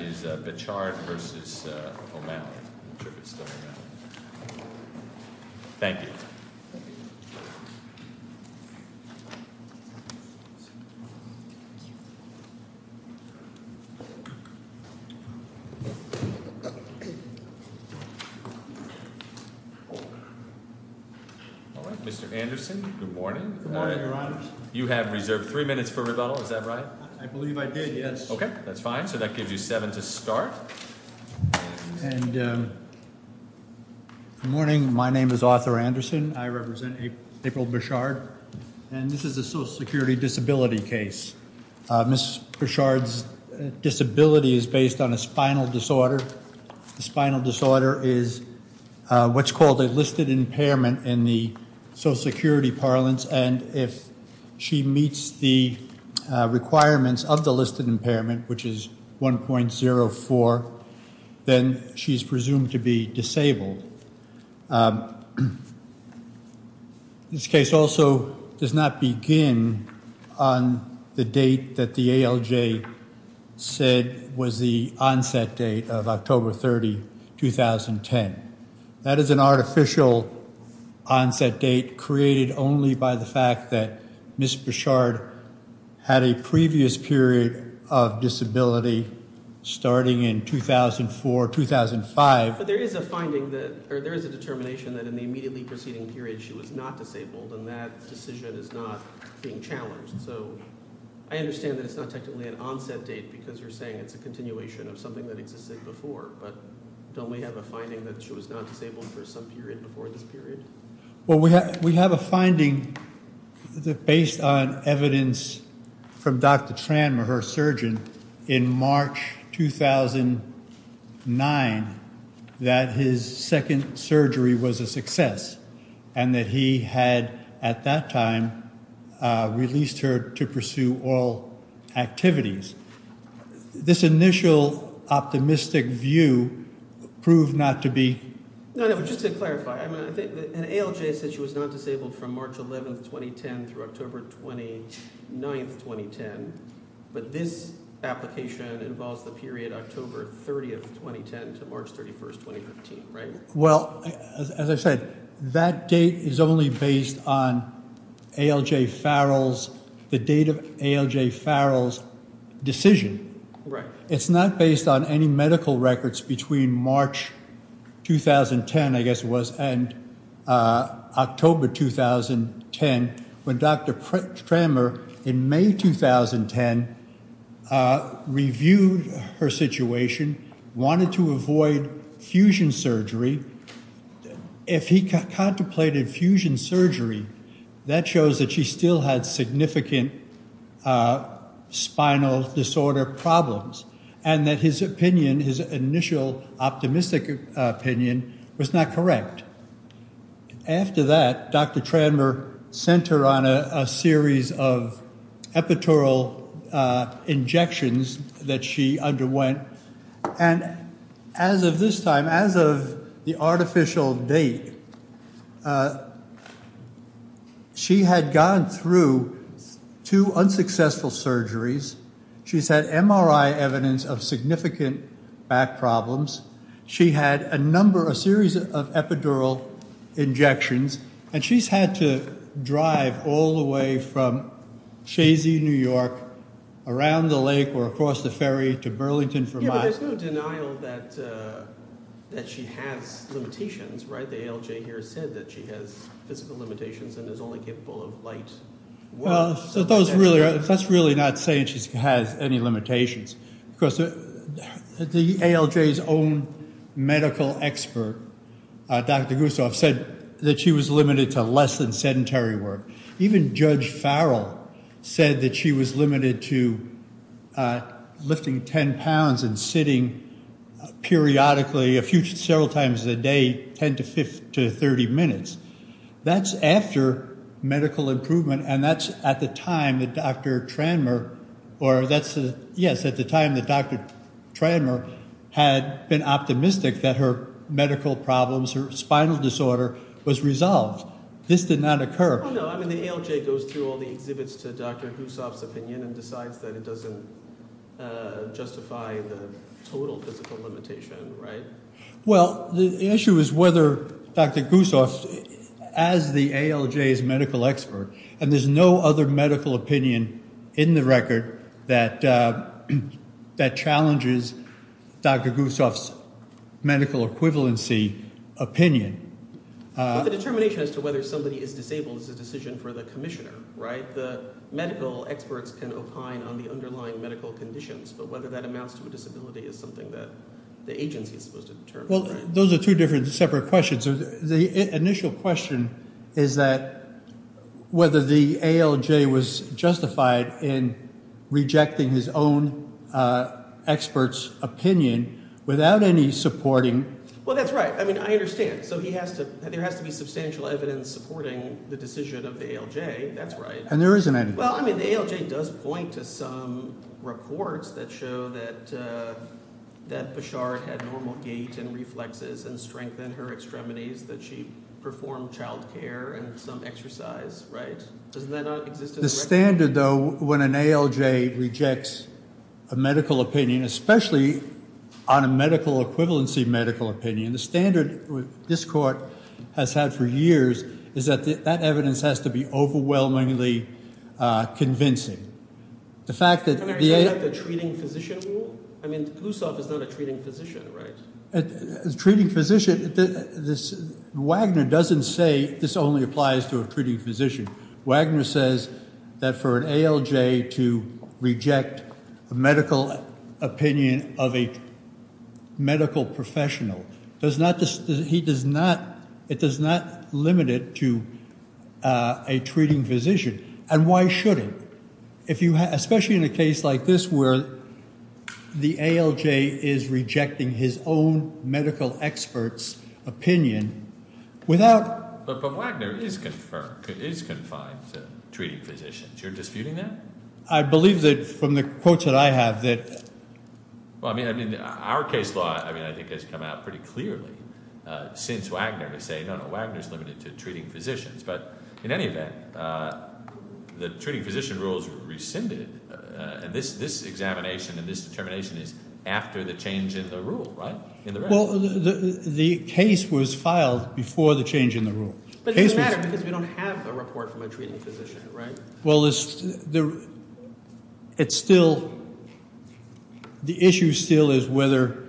I'm not sure if it's still O'Malley. Thank you. Thank you. All right. Mr. Anderson, good morning. Good morning, Your Honor. You have reserved three minutes for rebuttal. Is that right? I believe I did. Yes. Okay. That's fine. So that gives you seven to start. And good morning. My name is Arthur Anderson. I represent April Bechard. And this is a social security disability case. Ms. Bechard's disability is based on a spinal disorder. The spinal disorder is what's called a listed impairment in the social security parlance. And if she meets the requirements of the listed impairment, which is 1.04, then she's presumed to be disabled. This case also does not begin on the date that the ALJ said was the onset date of October 30, 2010. That is an artificial onset date created only by the fact that Ms. Bechard had a previous period of disability starting in 2004, 2005. But there is a finding that – or there is a determination that in the immediately preceding period she was not disabled. And that decision is not being challenged. So I understand that it's not technically an onset date because you're saying it's a continuation of something that existed before. But don't we have a finding that she was not disabled for some period before this period? Well, we have a finding based on evidence from Dr. Tran, her surgeon, in March 2009 that his second surgery was a success and that he had at that time released her to pursue oral activities. This initial optimistic view proved not to be – No, no, but just to clarify. I mean, I think – and ALJ said she was not disabled from March 11, 2010 through October 29, 2010. But this application involves the period October 30, 2010 to March 31, 2015, right? Well, as I said, that date is only based on ALJ Farrell's – the date of ALJ Farrell's decision. It's not based on any medical records between March 2010, I guess it was, and October 2010 when Dr. Tranmer, in May 2010, reviewed her situation, wanted to avoid fusion surgery. If he contemplated fusion surgery, that shows that she still had significant spinal disorder problems and that his opinion, his initial optimistic opinion, was not correct. After that, Dr. Tranmer sent her on a series of epidural injections that she underwent. And as of this time, as of the artificial date, she had gone through two unsuccessful surgeries. She's had MRI evidence of significant back problems. She had a number – a series of epidural injections. And she's had to drive all the way from Shazy, New York, around the lake or across the ferry to Burlington for miles. Yeah, but there's no denial that she has limitations, right? The ALJ here said that she has physical limitations and is only capable of light. Well, that's really not saying she has any limitations. Of course, the ALJ's own medical expert, Dr. Gustaf, said that she was limited to less than sedentary work. Even Judge Farrell said that she was limited to lifting 10 pounds and sitting periodically, several times a day, 10 to 30 minutes. That's after medical improvement, and that's at the time that Dr. Tranmer – yes, at the time that Dr. Tranmer had been optimistic that her medical problems, her spinal disorder, was resolved. This did not occur. Oh, no. I mean the ALJ goes through all the exhibits to Dr. Gustaf's opinion and decides that it doesn't justify the total physical limitation, right? Well, the issue is whether Dr. Gustaf, as the ALJ's medical expert, and there's no other medical opinion in the record that challenges Dr. Gustaf's medical equivalency opinion. But the determination as to whether somebody is disabled is a decision for the commissioner, right? The medical experts can opine on the underlying medical conditions, but whether that amounts to a disability is something that the agency is supposed to determine. Well, those are two different separate questions. The initial question is that whether the ALJ was justified in rejecting his own expert's opinion without any supporting – Well, that's right. I mean I understand. So he has to – there has to be substantial evidence supporting the decision of the ALJ. That's right. And there isn't any. Well, I mean the ALJ does point to some reports that show that Bouchard had normal gait and reflexes and strengthened her extremities, that she performed child care and some exercise, right? Doesn't that not exist in the record? The standard, though, when an ALJ rejects a medical opinion, especially on a medical equivalency medical opinion, the standard this court has had for years is that that evidence has to be overwhelmingly convincing. The fact that the – And are you talking about the treating physician rule? I mean Gustaf is not a treating physician, right? Treating physician – Wagner doesn't say this only applies to a treating physician. Wagner says that for an ALJ to reject a medical opinion of a medical professional does not – he does not – it does not limit it to a treating physician. And why should it? Especially in a case like this where the ALJ is rejecting his own medical expert's opinion without – But Wagner is confined to treating physicians. You're disputing that? I believe that from the quotes that I have that – Well, I mean our case law, I mean, I think has come out pretty clearly since Wagner to say, no, no, Wagner is limited to treating physicians. But in any event, the treating physician rule is rescinded. And this examination and this determination is after the change in the rule, right? Well, the case was filed before the change in the rule. But it doesn't matter because we don't have a report from a treating physician, right? Well, it's still – the issue still is whether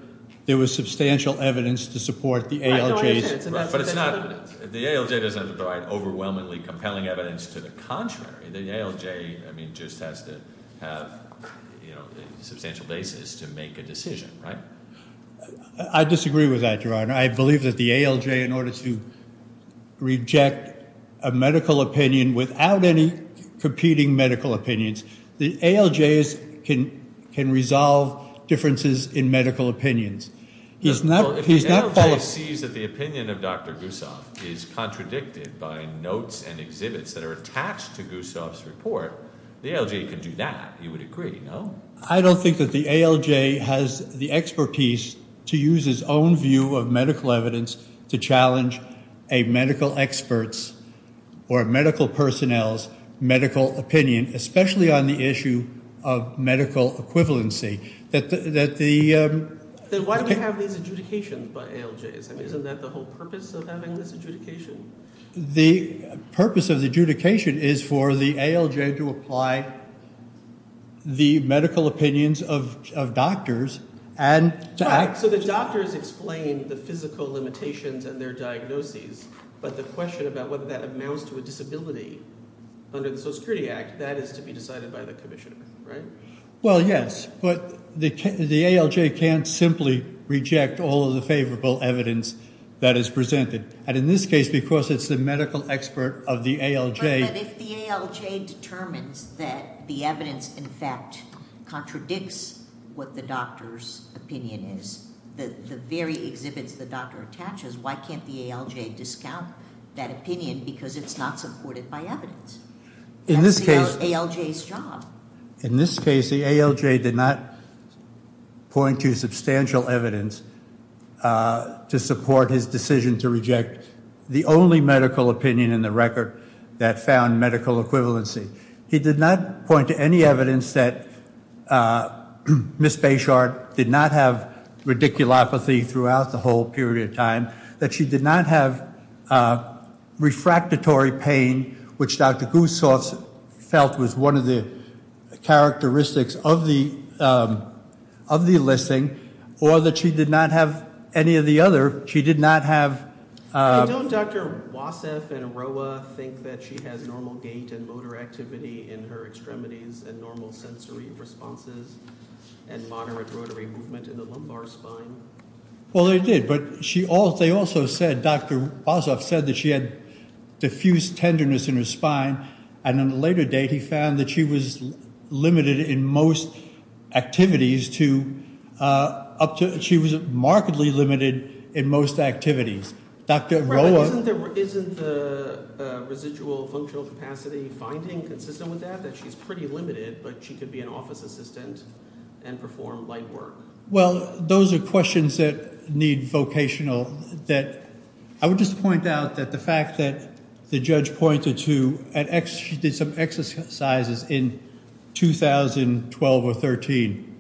there was substantial evidence to support the ALJ's – But it's not – the ALJ doesn't provide overwhelmingly compelling evidence to the contrary. The ALJ, I mean, just has to have a substantial basis to make a decision, right? I disagree with that, Your Honor. I believe that the ALJ, in order to reject a medical opinion without any competing medical opinions, the ALJs can resolve differences in medical opinions. Well, if the ALJ sees that the opinion of Dr. Gussoff is contradicted by notes and exhibits that are attached to Gussoff's report, the ALJ could do that. He would agree, no? I don't think that the ALJ has the expertise to use its own view of medical evidence to challenge a medical expert's or a medical personnel's medical opinion, especially on the issue of medical equivalency. That the – Then why do you have these adjudications by ALJs? I mean, isn't that the whole purpose of having this adjudication? The purpose of the adjudication is for the ALJ to apply the medical opinions of doctors and – So the doctors explain the physical limitations and their diagnoses, but the question about whether that amounts to a disability under the Social Security Act, that is to be decided by the commissioner, right? Well, yes, but the ALJ can't simply reject all of the favorable evidence that is presented. And in this case, because it's the medical expert of the ALJ – But if the ALJ determines that the evidence, in fact, contradicts what the doctor's opinion is, the very exhibits the doctor attaches, why can't the ALJ discount that opinion because it's not supported by evidence? In this case – That's the ALJ's job. In this case, the ALJ did not point to substantial evidence to support his decision to reject the only medical opinion in the record that found medical equivalency. He did not point to any evidence that Ms. Bechart did not have radiculopathy throughout the whole period of time, that she did not have refractory pain, which Dr. Gustafs felt was one of the characteristics of the – of the listening, or that she did not have any of the other – she did not have – Don't Dr. Wassef and Roa think that she has normal gait and motor activity in her extremities and normal sensory responses and moderate rotary movement in the lumbar spine? Well, they did, but she also – they also said – Dr. Wassef said that she had diffuse tenderness in her spine and on a later date he found that she was limited in most activities to – up to – she was markedly limited in most activities. Dr. Roa – Isn't the – isn't the residual functional capacity finding consistent with that, that she's pretty limited but she could be an office assistant and perform light work? Well, those are questions that need vocational – that – I would just point out that the fact that the judge pointed to – she did some exercises in 2012 or 13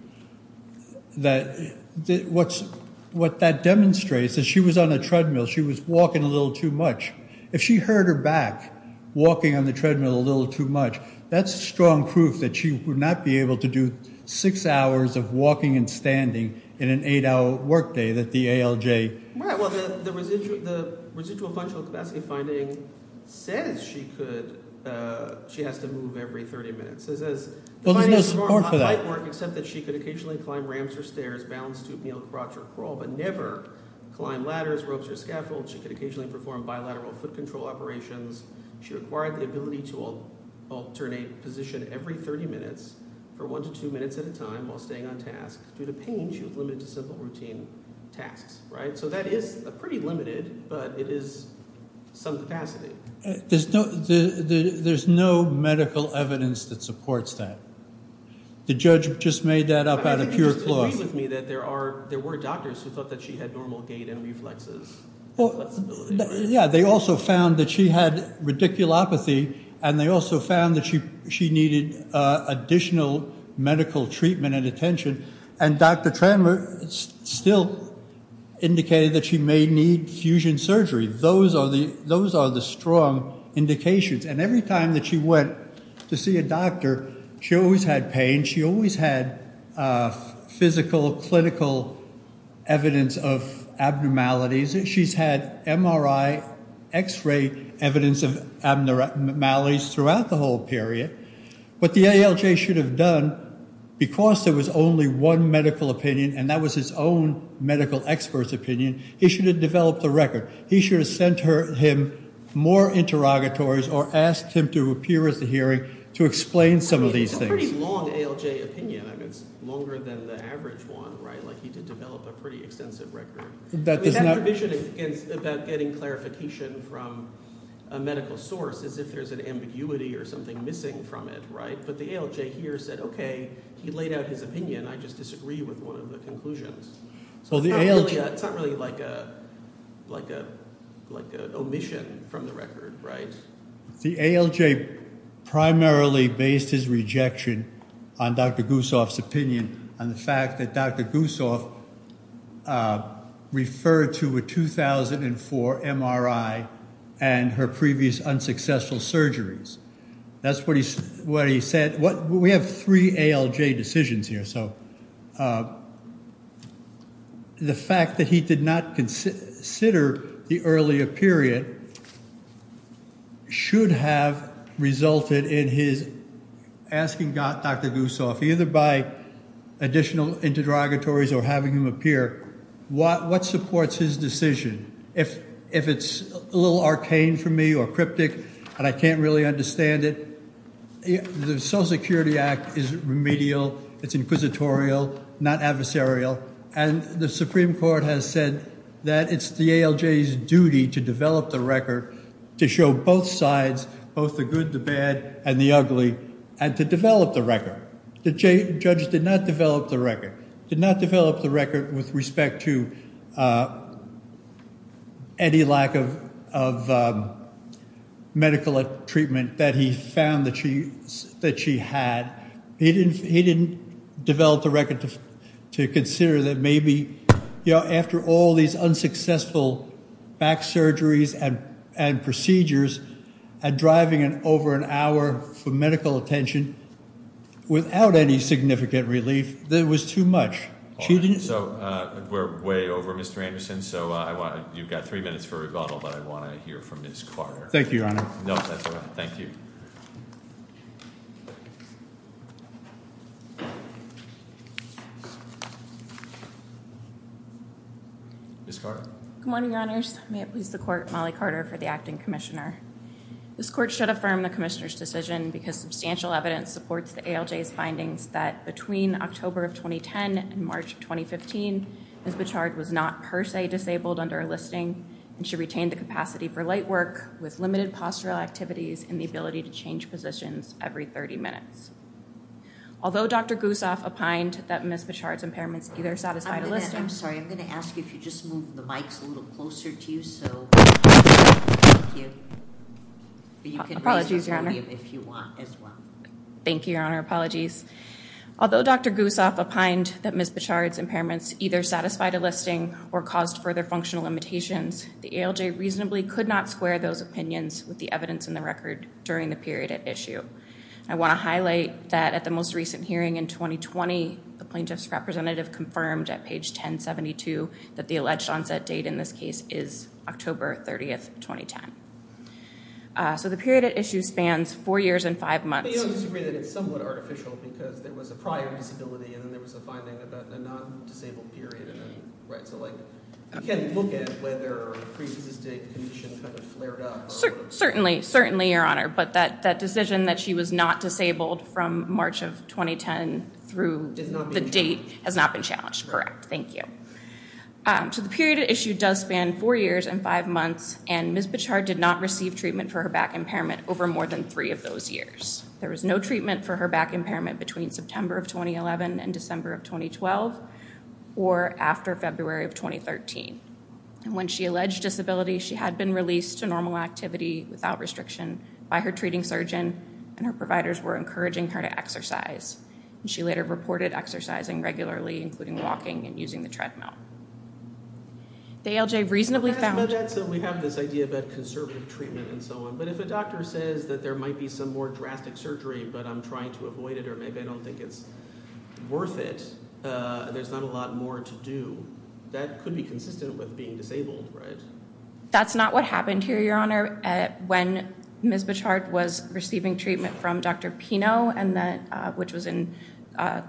that – what's – what that demonstrates is she was on a treadmill. She was walking a little too much. If she hurt her back walking on the treadmill a little too much, that's strong proof that she would not be able to do six hours of walking and standing in an eight-hour workday that the ALJ – Right. Well, the residual – the residual functional capacity finding says she could – she has to move every 30 minutes. It says – Well, there's no support for that. Except that she could occasionally climb ramps or stairs, bounce, stoop, kneel, crouch, or crawl, but never climb ladders, ropes, or scaffolds. She could occasionally perform bilateral foot control operations. She required the ability to alternate position every 30 minutes for one to two minutes at a time while staying on task. Due to pain, she was limited to simple routine tasks. Right? So that is pretty limited, but it is some capacity. There's no medical evidence that supports that. The judge just made that up out of pure fluorescence. I think you have to agree with me that there are – there were doctors who thought that she had normal gait and reflexes. Yeah. They also found that she had radiculopathy, and they also found that she needed additional medical treatment and attention. And Dr. Tremmer still indicated that she may need fusion surgery. Those are the strong indications. And every time that she went to see a doctor, she always had pain. She always had physical, clinical evidence of abnormalities. She's had MRI, X-ray evidence of abnormalities throughout the whole period. What the ALJ should have done, because there was only one medical opinion, and that was his own medical expert's opinion, he should have developed a record. He should have sent him more interrogatories or asked him to appear at the hearing to explain some of these things. It's a pretty long ALJ opinion. I mean, it's longer than the average one, right? Like he did develop a pretty extensive record. That provision about getting clarification from a medical source is if there's an ambiguity or something missing from it, right? But the ALJ here said, okay, he laid out his opinion. I just disagree with one of the conclusions. So it's not really like an omission from the record, right? The ALJ primarily based his rejection on Dr. Gussoff's opinion, on the fact that Dr. Gussoff referred to a 2004 MRI and her previous unsuccessful surgeries. That's what he said. We have three ALJ decisions here. So the fact that he did not consider the earlier period should have resulted in his asking Dr. Gussoff, either by additional interrogatories or having him appear, what supports his decision? If it's a little arcane for me or cryptic and I can't really understand it, the Social Security Act is remedial. It's inquisitorial, not adversarial. And the Supreme Court has said that it's the ALJ's duty to develop the record, to show both sides, both the good, the bad, and the ugly, and to develop the record. The judge did not develop the record. Did not develop the record with respect to any lack of medical treatment that he found that she had. He didn't develop the record to consider that maybe, you know, after all these unsuccessful back surgeries and procedures, and driving over an hour for medical attention without any significant relief, that it was too much. So we're way over, Mr. Anderson. So you've got three minutes for rebuttal, but I want to hear from Ms. Carter. Thank you, Your Honor. No, that's all right. Thank you. Ms. Carter. Good morning, Your Honors. May it please the Court, Molly Carter for the Acting Commissioner. This Court should affirm the Commissioner's decision because substantial evidence supports the ALJ's findings that between October of 2010 and March of 2015, Ms. Bichard was not per se disabled under a listing, and she retained the capacity for light work with limited postural activities and the ability to change positions every 30 minutes. Although Dr. Gusoff opined that Ms. Bichard's impairments either satisfied a listing. I'm sorry. I'm going to ask you if you just move the mics a little closer to you so we can hear you. Apologies, Your Honor. You can raise the podium if you want as well. Thank you, Your Honor. Apologies. Although Dr. Gusoff opined that Ms. Bichard's impairments either satisfied a listing or caused further functional limitations, the ALJ reasonably could not square those opinions with the evidence in the record during the period at issue. I want to highlight that at the most recent hearing in 2020, the plaintiff's representative confirmed at page 1072 that the alleged onset date in this case is October 30, 2010. So the period at issue spans four years and five months. But you don't disagree that it's somewhat artificial because there was a prior disability and then there was a finding about a non-disabled period. Right. So like you can look at whether a pre-existing condition kind of flared up. Certainly. Certainly, Your Honor. But that decision that she was not disabled from March of 2010 through the date has not been challenged. Correct. Thank you. So the period at issue does span four years and five months. And Ms. Bichard did not receive treatment for her back impairment over more than three of those years. There was no treatment for her back impairment between September of 2011 and December of 2012 or after February of 2013. And when she alleged disability, she had been released to normal activity without restriction by her treating surgeon and her providers were encouraging her to exercise. And she later reported exercising regularly, including walking and using the treadmill. The ALJ reasonably found- So we have this idea about conservative treatment and so on. But if a doctor says that there might be some more drastic surgery but I'm trying to avoid it or maybe I don't think it's worth it, there's not a lot more to do, that could be consistent with being disabled, right? That's not what happened here, Your Honor. When Ms. Bichard was receiving treatment from Dr. Pino, which was in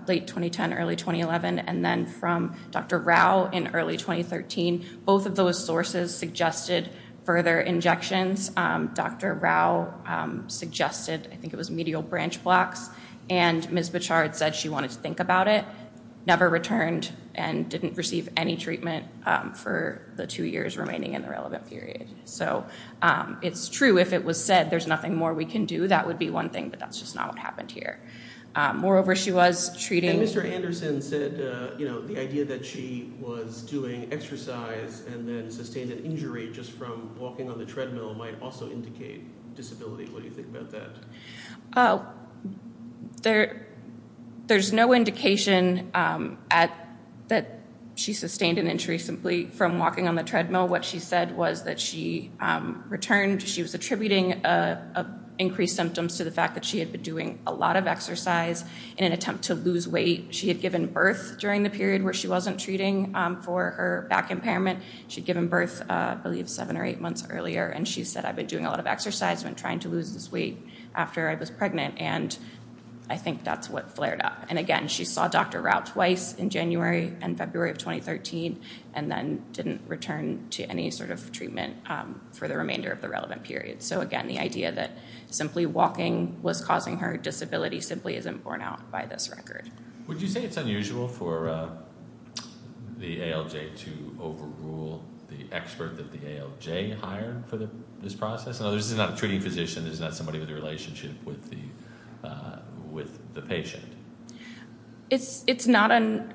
late 2010, early 2011, and then from Dr. Rao in early 2013, both of those sources suggested further injections. Dr. Rao suggested, I think it was medial branch blocks, and Ms. Bichard said she wanted to think about it, never returned and didn't receive any treatment for the two years remaining in the relevant period. So it's true if it was said there's nothing more we can do, that would be one thing, but that's just not what happened here. Moreover, she was treating- And Mr. Anderson said, you know, the idea that she was doing exercise and then sustained an injury just from walking on the treadmill might also indicate disability. What do you think about that? There's no indication that she sustained an injury simply from walking on the treadmill. What she said was that she returned, she was attributing increased symptoms to the fact that she had been doing a lot of exercise in an attempt to lose weight. She had given birth during the period where she wasn't treating for her back impairment. She had given birth, I believe, seven or eight months earlier, and she said, I've been doing a lot of exercise and trying to lose this weight after I was pregnant, and I think that's what flared up. And again, she saw Dr. Rao twice in January and February of 2013 and then didn't return to any sort of treatment for the remainder of the relevant period. So again, the idea that simply walking was causing her disability simply isn't borne out by this record. Would you say it's unusual for the ALJ to overrule the expert that the ALJ hired for this process? This is not a treating physician, this is not somebody with a relationship with the patient. It's not an-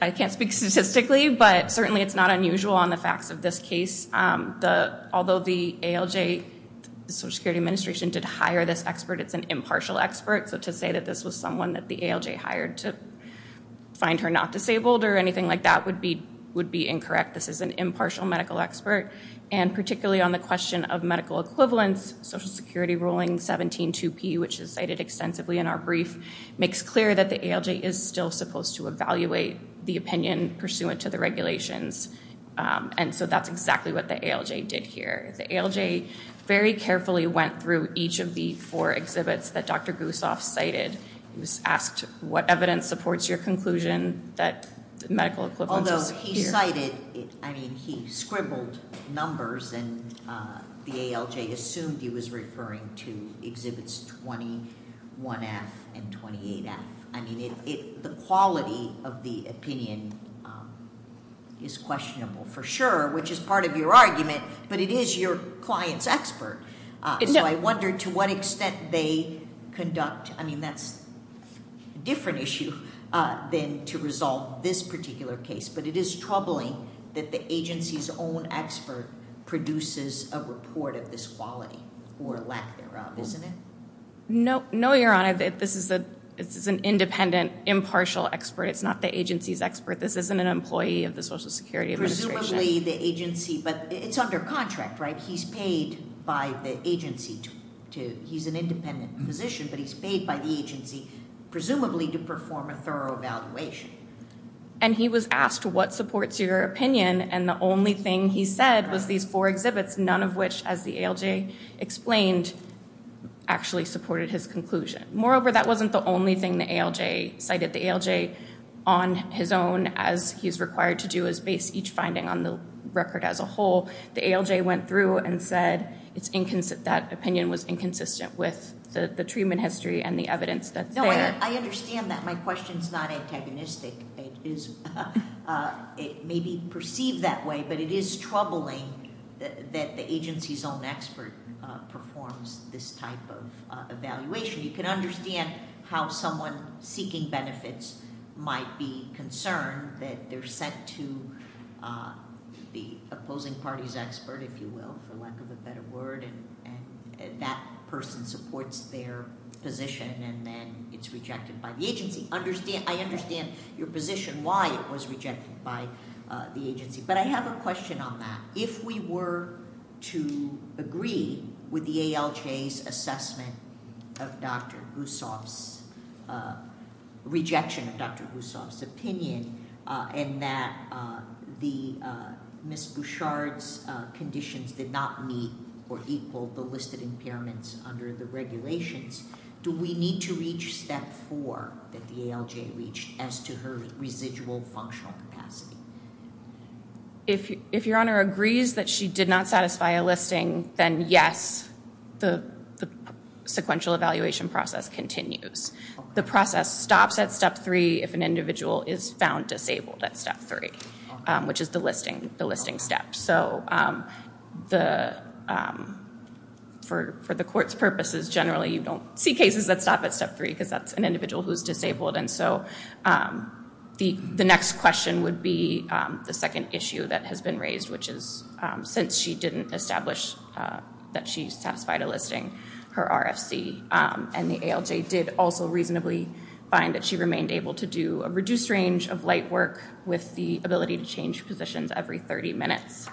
I can't speak statistically, but certainly it's not unusual on the facts of this case. Although the ALJ, the Social Security Administration, did hire this expert, it's an impartial expert, so to say that this was someone that the ALJ hired to find her not disabled or anything like that would be incorrect. This is an impartial medical expert, and particularly on the question of medical equivalents, Social Security ruling 17-2P, which is cited extensively in our brief, makes clear that the ALJ is still supposed to evaluate the opinion pursuant to the regulations. And so that's exactly what the ALJ did here. The ALJ very carefully went through each of the four exhibits that Dr. Gusoff cited. He was asked what evidence supports your conclusion that medical equivalents- Although he cited- I mean, he scribbled numbers, and the ALJ assumed he was referring to Exhibits 21F and 28F. I mean, the quality of the opinion is questionable for sure, which is part of your argument, but it is your client's expert. So I wonder to what extent they conduct- I mean, that's a different issue than to resolve this particular case. But it is troubling that the agency's own expert produces a report of this quality or lack thereof, isn't it? No, Your Honor. This is an independent, impartial expert. It's not the agency's expert. This isn't an employee of the Social Security Administration. Presumably the agency- but it's under contract, right? He's paid by the agency to- he's an independent physician, but he's paid by the agency, presumably to perform a thorough evaluation. And he was asked what supports your opinion, and the only thing he said was these four exhibits, none of which, as the ALJ explained, actually supported his conclusion. Moreover, that wasn't the only thing the ALJ- cited the ALJ on his own, as he's required to do is base each finding on the record as a whole. The ALJ went through and said that opinion was inconsistent with the treatment history and the evidence that's there. No, I understand that. My question's not antagonistic. It may be perceived that way, but it is troubling that the agency's own expert performs this type of evaluation. You can understand how someone seeking benefits might be concerned that they're sent to the opposing party's expert, if you will, for lack of a better word, and that person supports their position, and then it's rejected by the agency. I understand your position, why it was rejected by the agency, but I have a question on that. If we were to agree with the ALJ's assessment of Dr. Gussoff's- rejection of Dr. Gussoff's opinion, and that Ms. Bouchard's conditions did not meet or equal the listed impairments under the regulations, do we need to reach step four that the ALJ reached as to her residual functional capacity? If your Honor agrees that she did not satisfy a listing, then yes, the sequential evaluation process continues. The process stops at step three if an individual is found disabled at step three, which is the listing step. So for the court's purposes, generally you don't see cases that stop at step three because that's an individual who's disabled, and so the next question would be the second issue that has been raised, which is since she didn't establish that she satisfied a listing, her RFC and the ALJ did also reasonably find that she remained able to do a reduced range of light work with the ability to change positions every 30 minutes.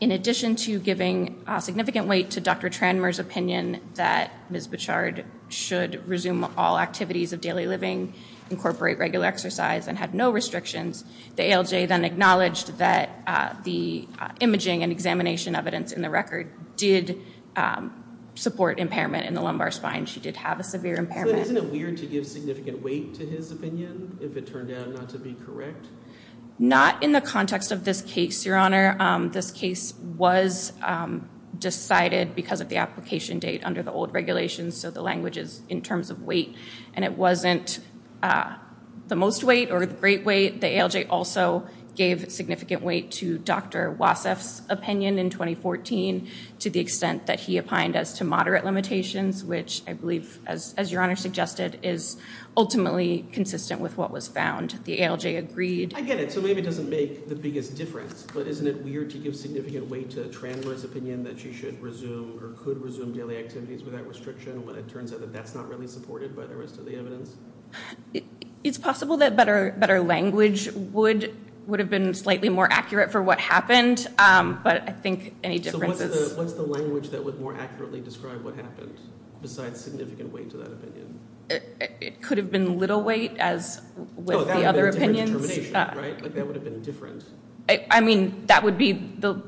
In addition to giving significant weight to Dr. Tranmer's opinion that Ms. Bouchard should resume all activities of daily living, incorporate regular exercise, and have no restrictions, the ALJ then acknowledged that the imaging and examination evidence in the record did support impairment in the lumbar spine. So isn't it weird to give significant weight to his opinion if it turned out not to be correct? Not in the context of this case, Your Honor. This case was decided because of the application date under the old regulations, so the language is in terms of weight, and it wasn't the most weight or the great weight. The ALJ also gave significant weight to Dr. Wasseff's opinion in 2014 to the extent that he opined as to moderate limitations, which I believe, as Your Honor suggested, is ultimately consistent with what was found. The ALJ agreed. I get it. So maybe it doesn't make the biggest difference, but isn't it weird to give significant weight to Tranmer's opinion that she should resume or could resume daily activities without restriction when it turns out that that's not really supported by the rest of the evidence? It's possible that better language would have been slightly more accurate for what happened, but I think any difference is… What's the language that would more accurately describe what happened besides significant weight to that opinion? It could have been little weight, as with the other opinions. Oh, that would have been different determination, right? That would have been different. I mean, that would be the…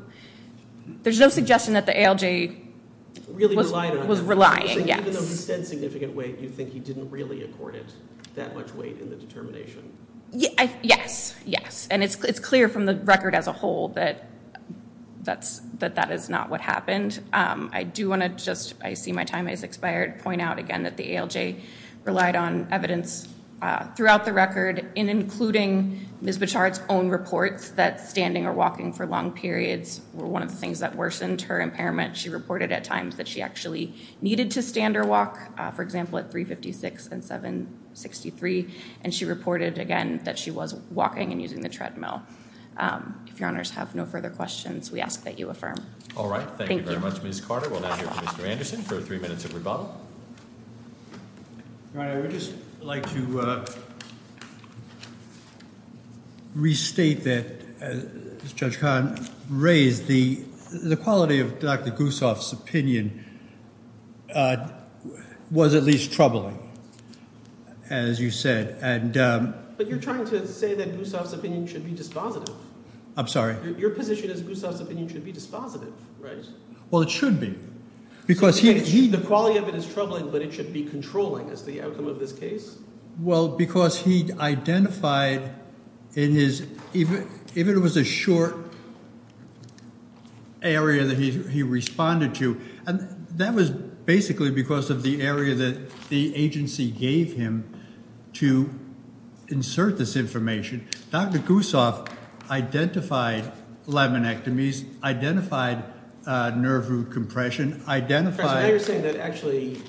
There's no suggestion that the ALJ was relying. Even though he said significant weight, you think he didn't really accord it that much weight in the determination? Yes, yes. And it's clear from the record as a whole that that is not what happened. I do want to just, I see my time has expired, point out again that the ALJ relied on evidence throughout the record, including Ms. Bichard's own reports that standing or walking for long periods were one of the things that worsened her impairment. She reported at times that she actually needed to stand or walk, for example, at 356 and 763, and she reported, again, that she was walking and using the treadmill. If your honors have no further questions, we ask that you affirm. All right. Thank you very much, Ms. Carter. We'll now hear from Mr. Anderson for three minutes of rebuttal. All right. I would just like to restate that, as Judge Kahn raised, the quality of Dr. Gusoff's opinion was at least troubling, as you said. But you're trying to say that Gusoff's opinion should be dispositive. I'm sorry? Your position is Gusoff's opinion should be dispositive, right? Well, it should be because he… The quality of it is troubling, but it should be controlling is the outcome of this case? Well, because he identified in his – if it was a short area that he responded to, that was basically because of the area that the agency gave him to insert this information. Dr. Gusoff identified laminectomies, identified nerve root compression, identified… So now you're saying that actually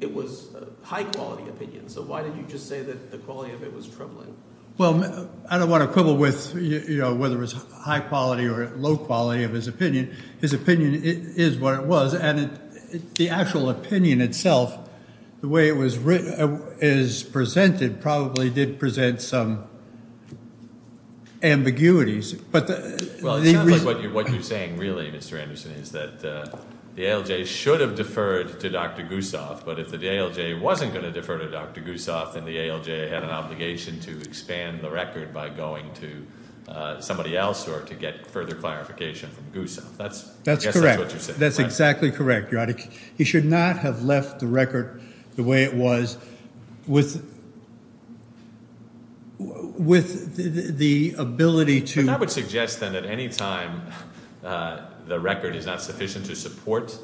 it was a high-quality opinion. So why did you just say that the quality of it was troubling? Well, I don't want to quibble with whether it was high-quality or low-quality of his opinion. His opinion is what it was, and the actual opinion itself, the way it was presented, probably did present some ambiguities. Well, it's not like what you're saying really, Mr. Anderson, is that the ALJ should have deferred to Dr. Gusoff, but if the ALJ wasn't going to defer to Dr. Gusoff, then the ALJ had an obligation to expand the record by going to somebody else or to get further clarification from Gusoff. That's correct. I guess that's what you're saying. That's exactly correct. He should not have left the record the way it was with the ability to… And that would suggest that at any time the record is not sufficient to support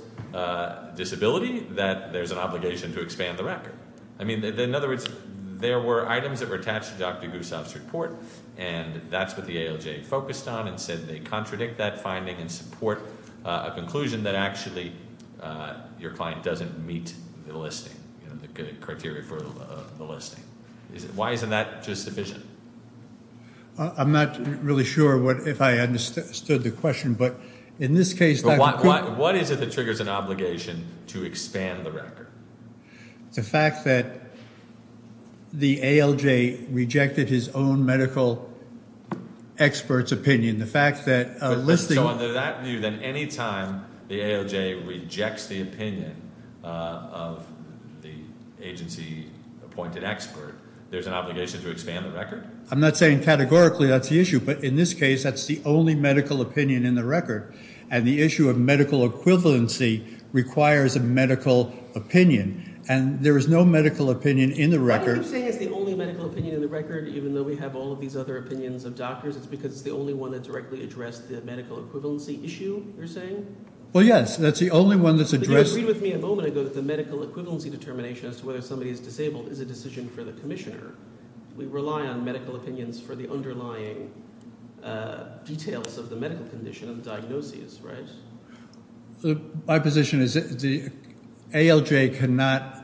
disability, that there's an obligation to expand the record. I mean, in other words, there were items that were attached to Dr. Gusoff's report, and that's what the ALJ focused on and said they contradict that finding and support a conclusion that actually your client doesn't meet the listing, the criteria for the listing. Why isn't that just sufficient? I'm not really sure if I understood the question, but in this case… What is it that triggers an obligation to expand the record? The fact that the ALJ rejected his own medical expert's opinion. So under that view, then, any time the ALJ rejects the opinion of the agency-appointed expert, there's an obligation to expand the record? I'm not saying categorically that's the issue, but in this case that's the only medical opinion in the record, and the issue of medical equivalency requires a medical opinion, and there is no medical opinion in the record. What I'm saying is the only medical opinion in the record, even though we have all of these other opinions of doctors, it's because it's the only one that directly addressed the medical equivalency issue, you're saying? Well, yes, that's the only one that's addressed… But you agreed with me a moment ago that the medical equivalency determination as to whether somebody is disabled is a decision for the commissioner. We rely on medical opinions for the underlying details of the medical condition of the diagnosis, right? My position is the ALJ cannot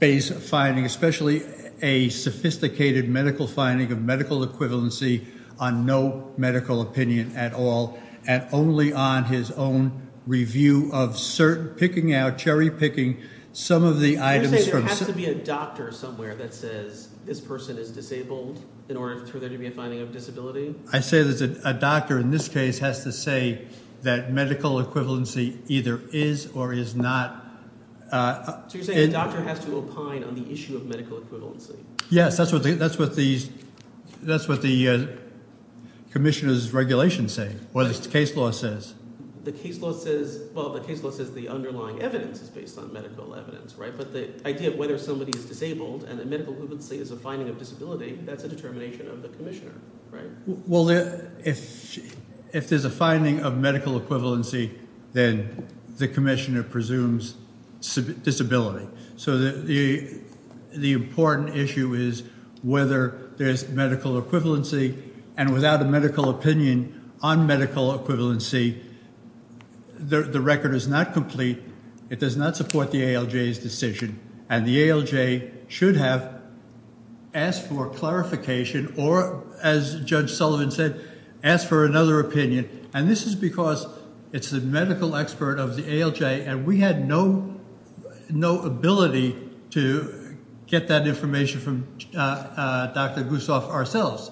base a finding, especially a sophisticated medical finding of medical equivalency, on no medical opinion at all, and only on his own review of certain – picking out, cherry-picking some of the items from… You're saying there has to be a doctor somewhere that says this person is disabled in order for there to be a finding of disability? I say that a doctor in this case has to say that medical equivalency either is or is not… So you're saying a doctor has to opine on the issue of medical equivalency? Yes, that's what the commissioner's regulation says, what the case law says. The case law says – well, the case law says the underlying evidence is based on medical evidence, right? But the idea of whether somebody is disabled and the medical equivalency is a finding of disability, that's a determination of the commissioner, right? Well, if there's a finding of medical equivalency, then the commissioner presumes disability. So the important issue is whether there's medical equivalency, and without a medical opinion on medical equivalency, the record is not complete. It does not support the ALJ's decision, and the ALJ should have asked for clarification or, as Judge Sullivan said, asked for another opinion, and this is because it's the medical expert of the ALJ, and we had no ability to get that information from Dr. Gusoff ourselves.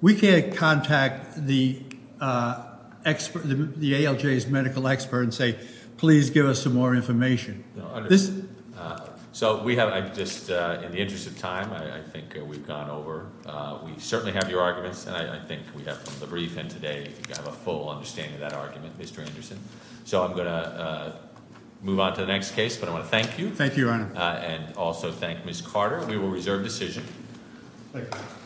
We can't contact the ALJ's medical expert and say, please give us some more information. So we have – just in the interest of time, I think we've gone over – we certainly have your arguments, and I think we have a full understanding of that argument, Mr. Anderson. So I'm going to move on to the next case, but I want to thank you. Thank you, Your Honor. And also thank Ms. Carter. We will reserve decision.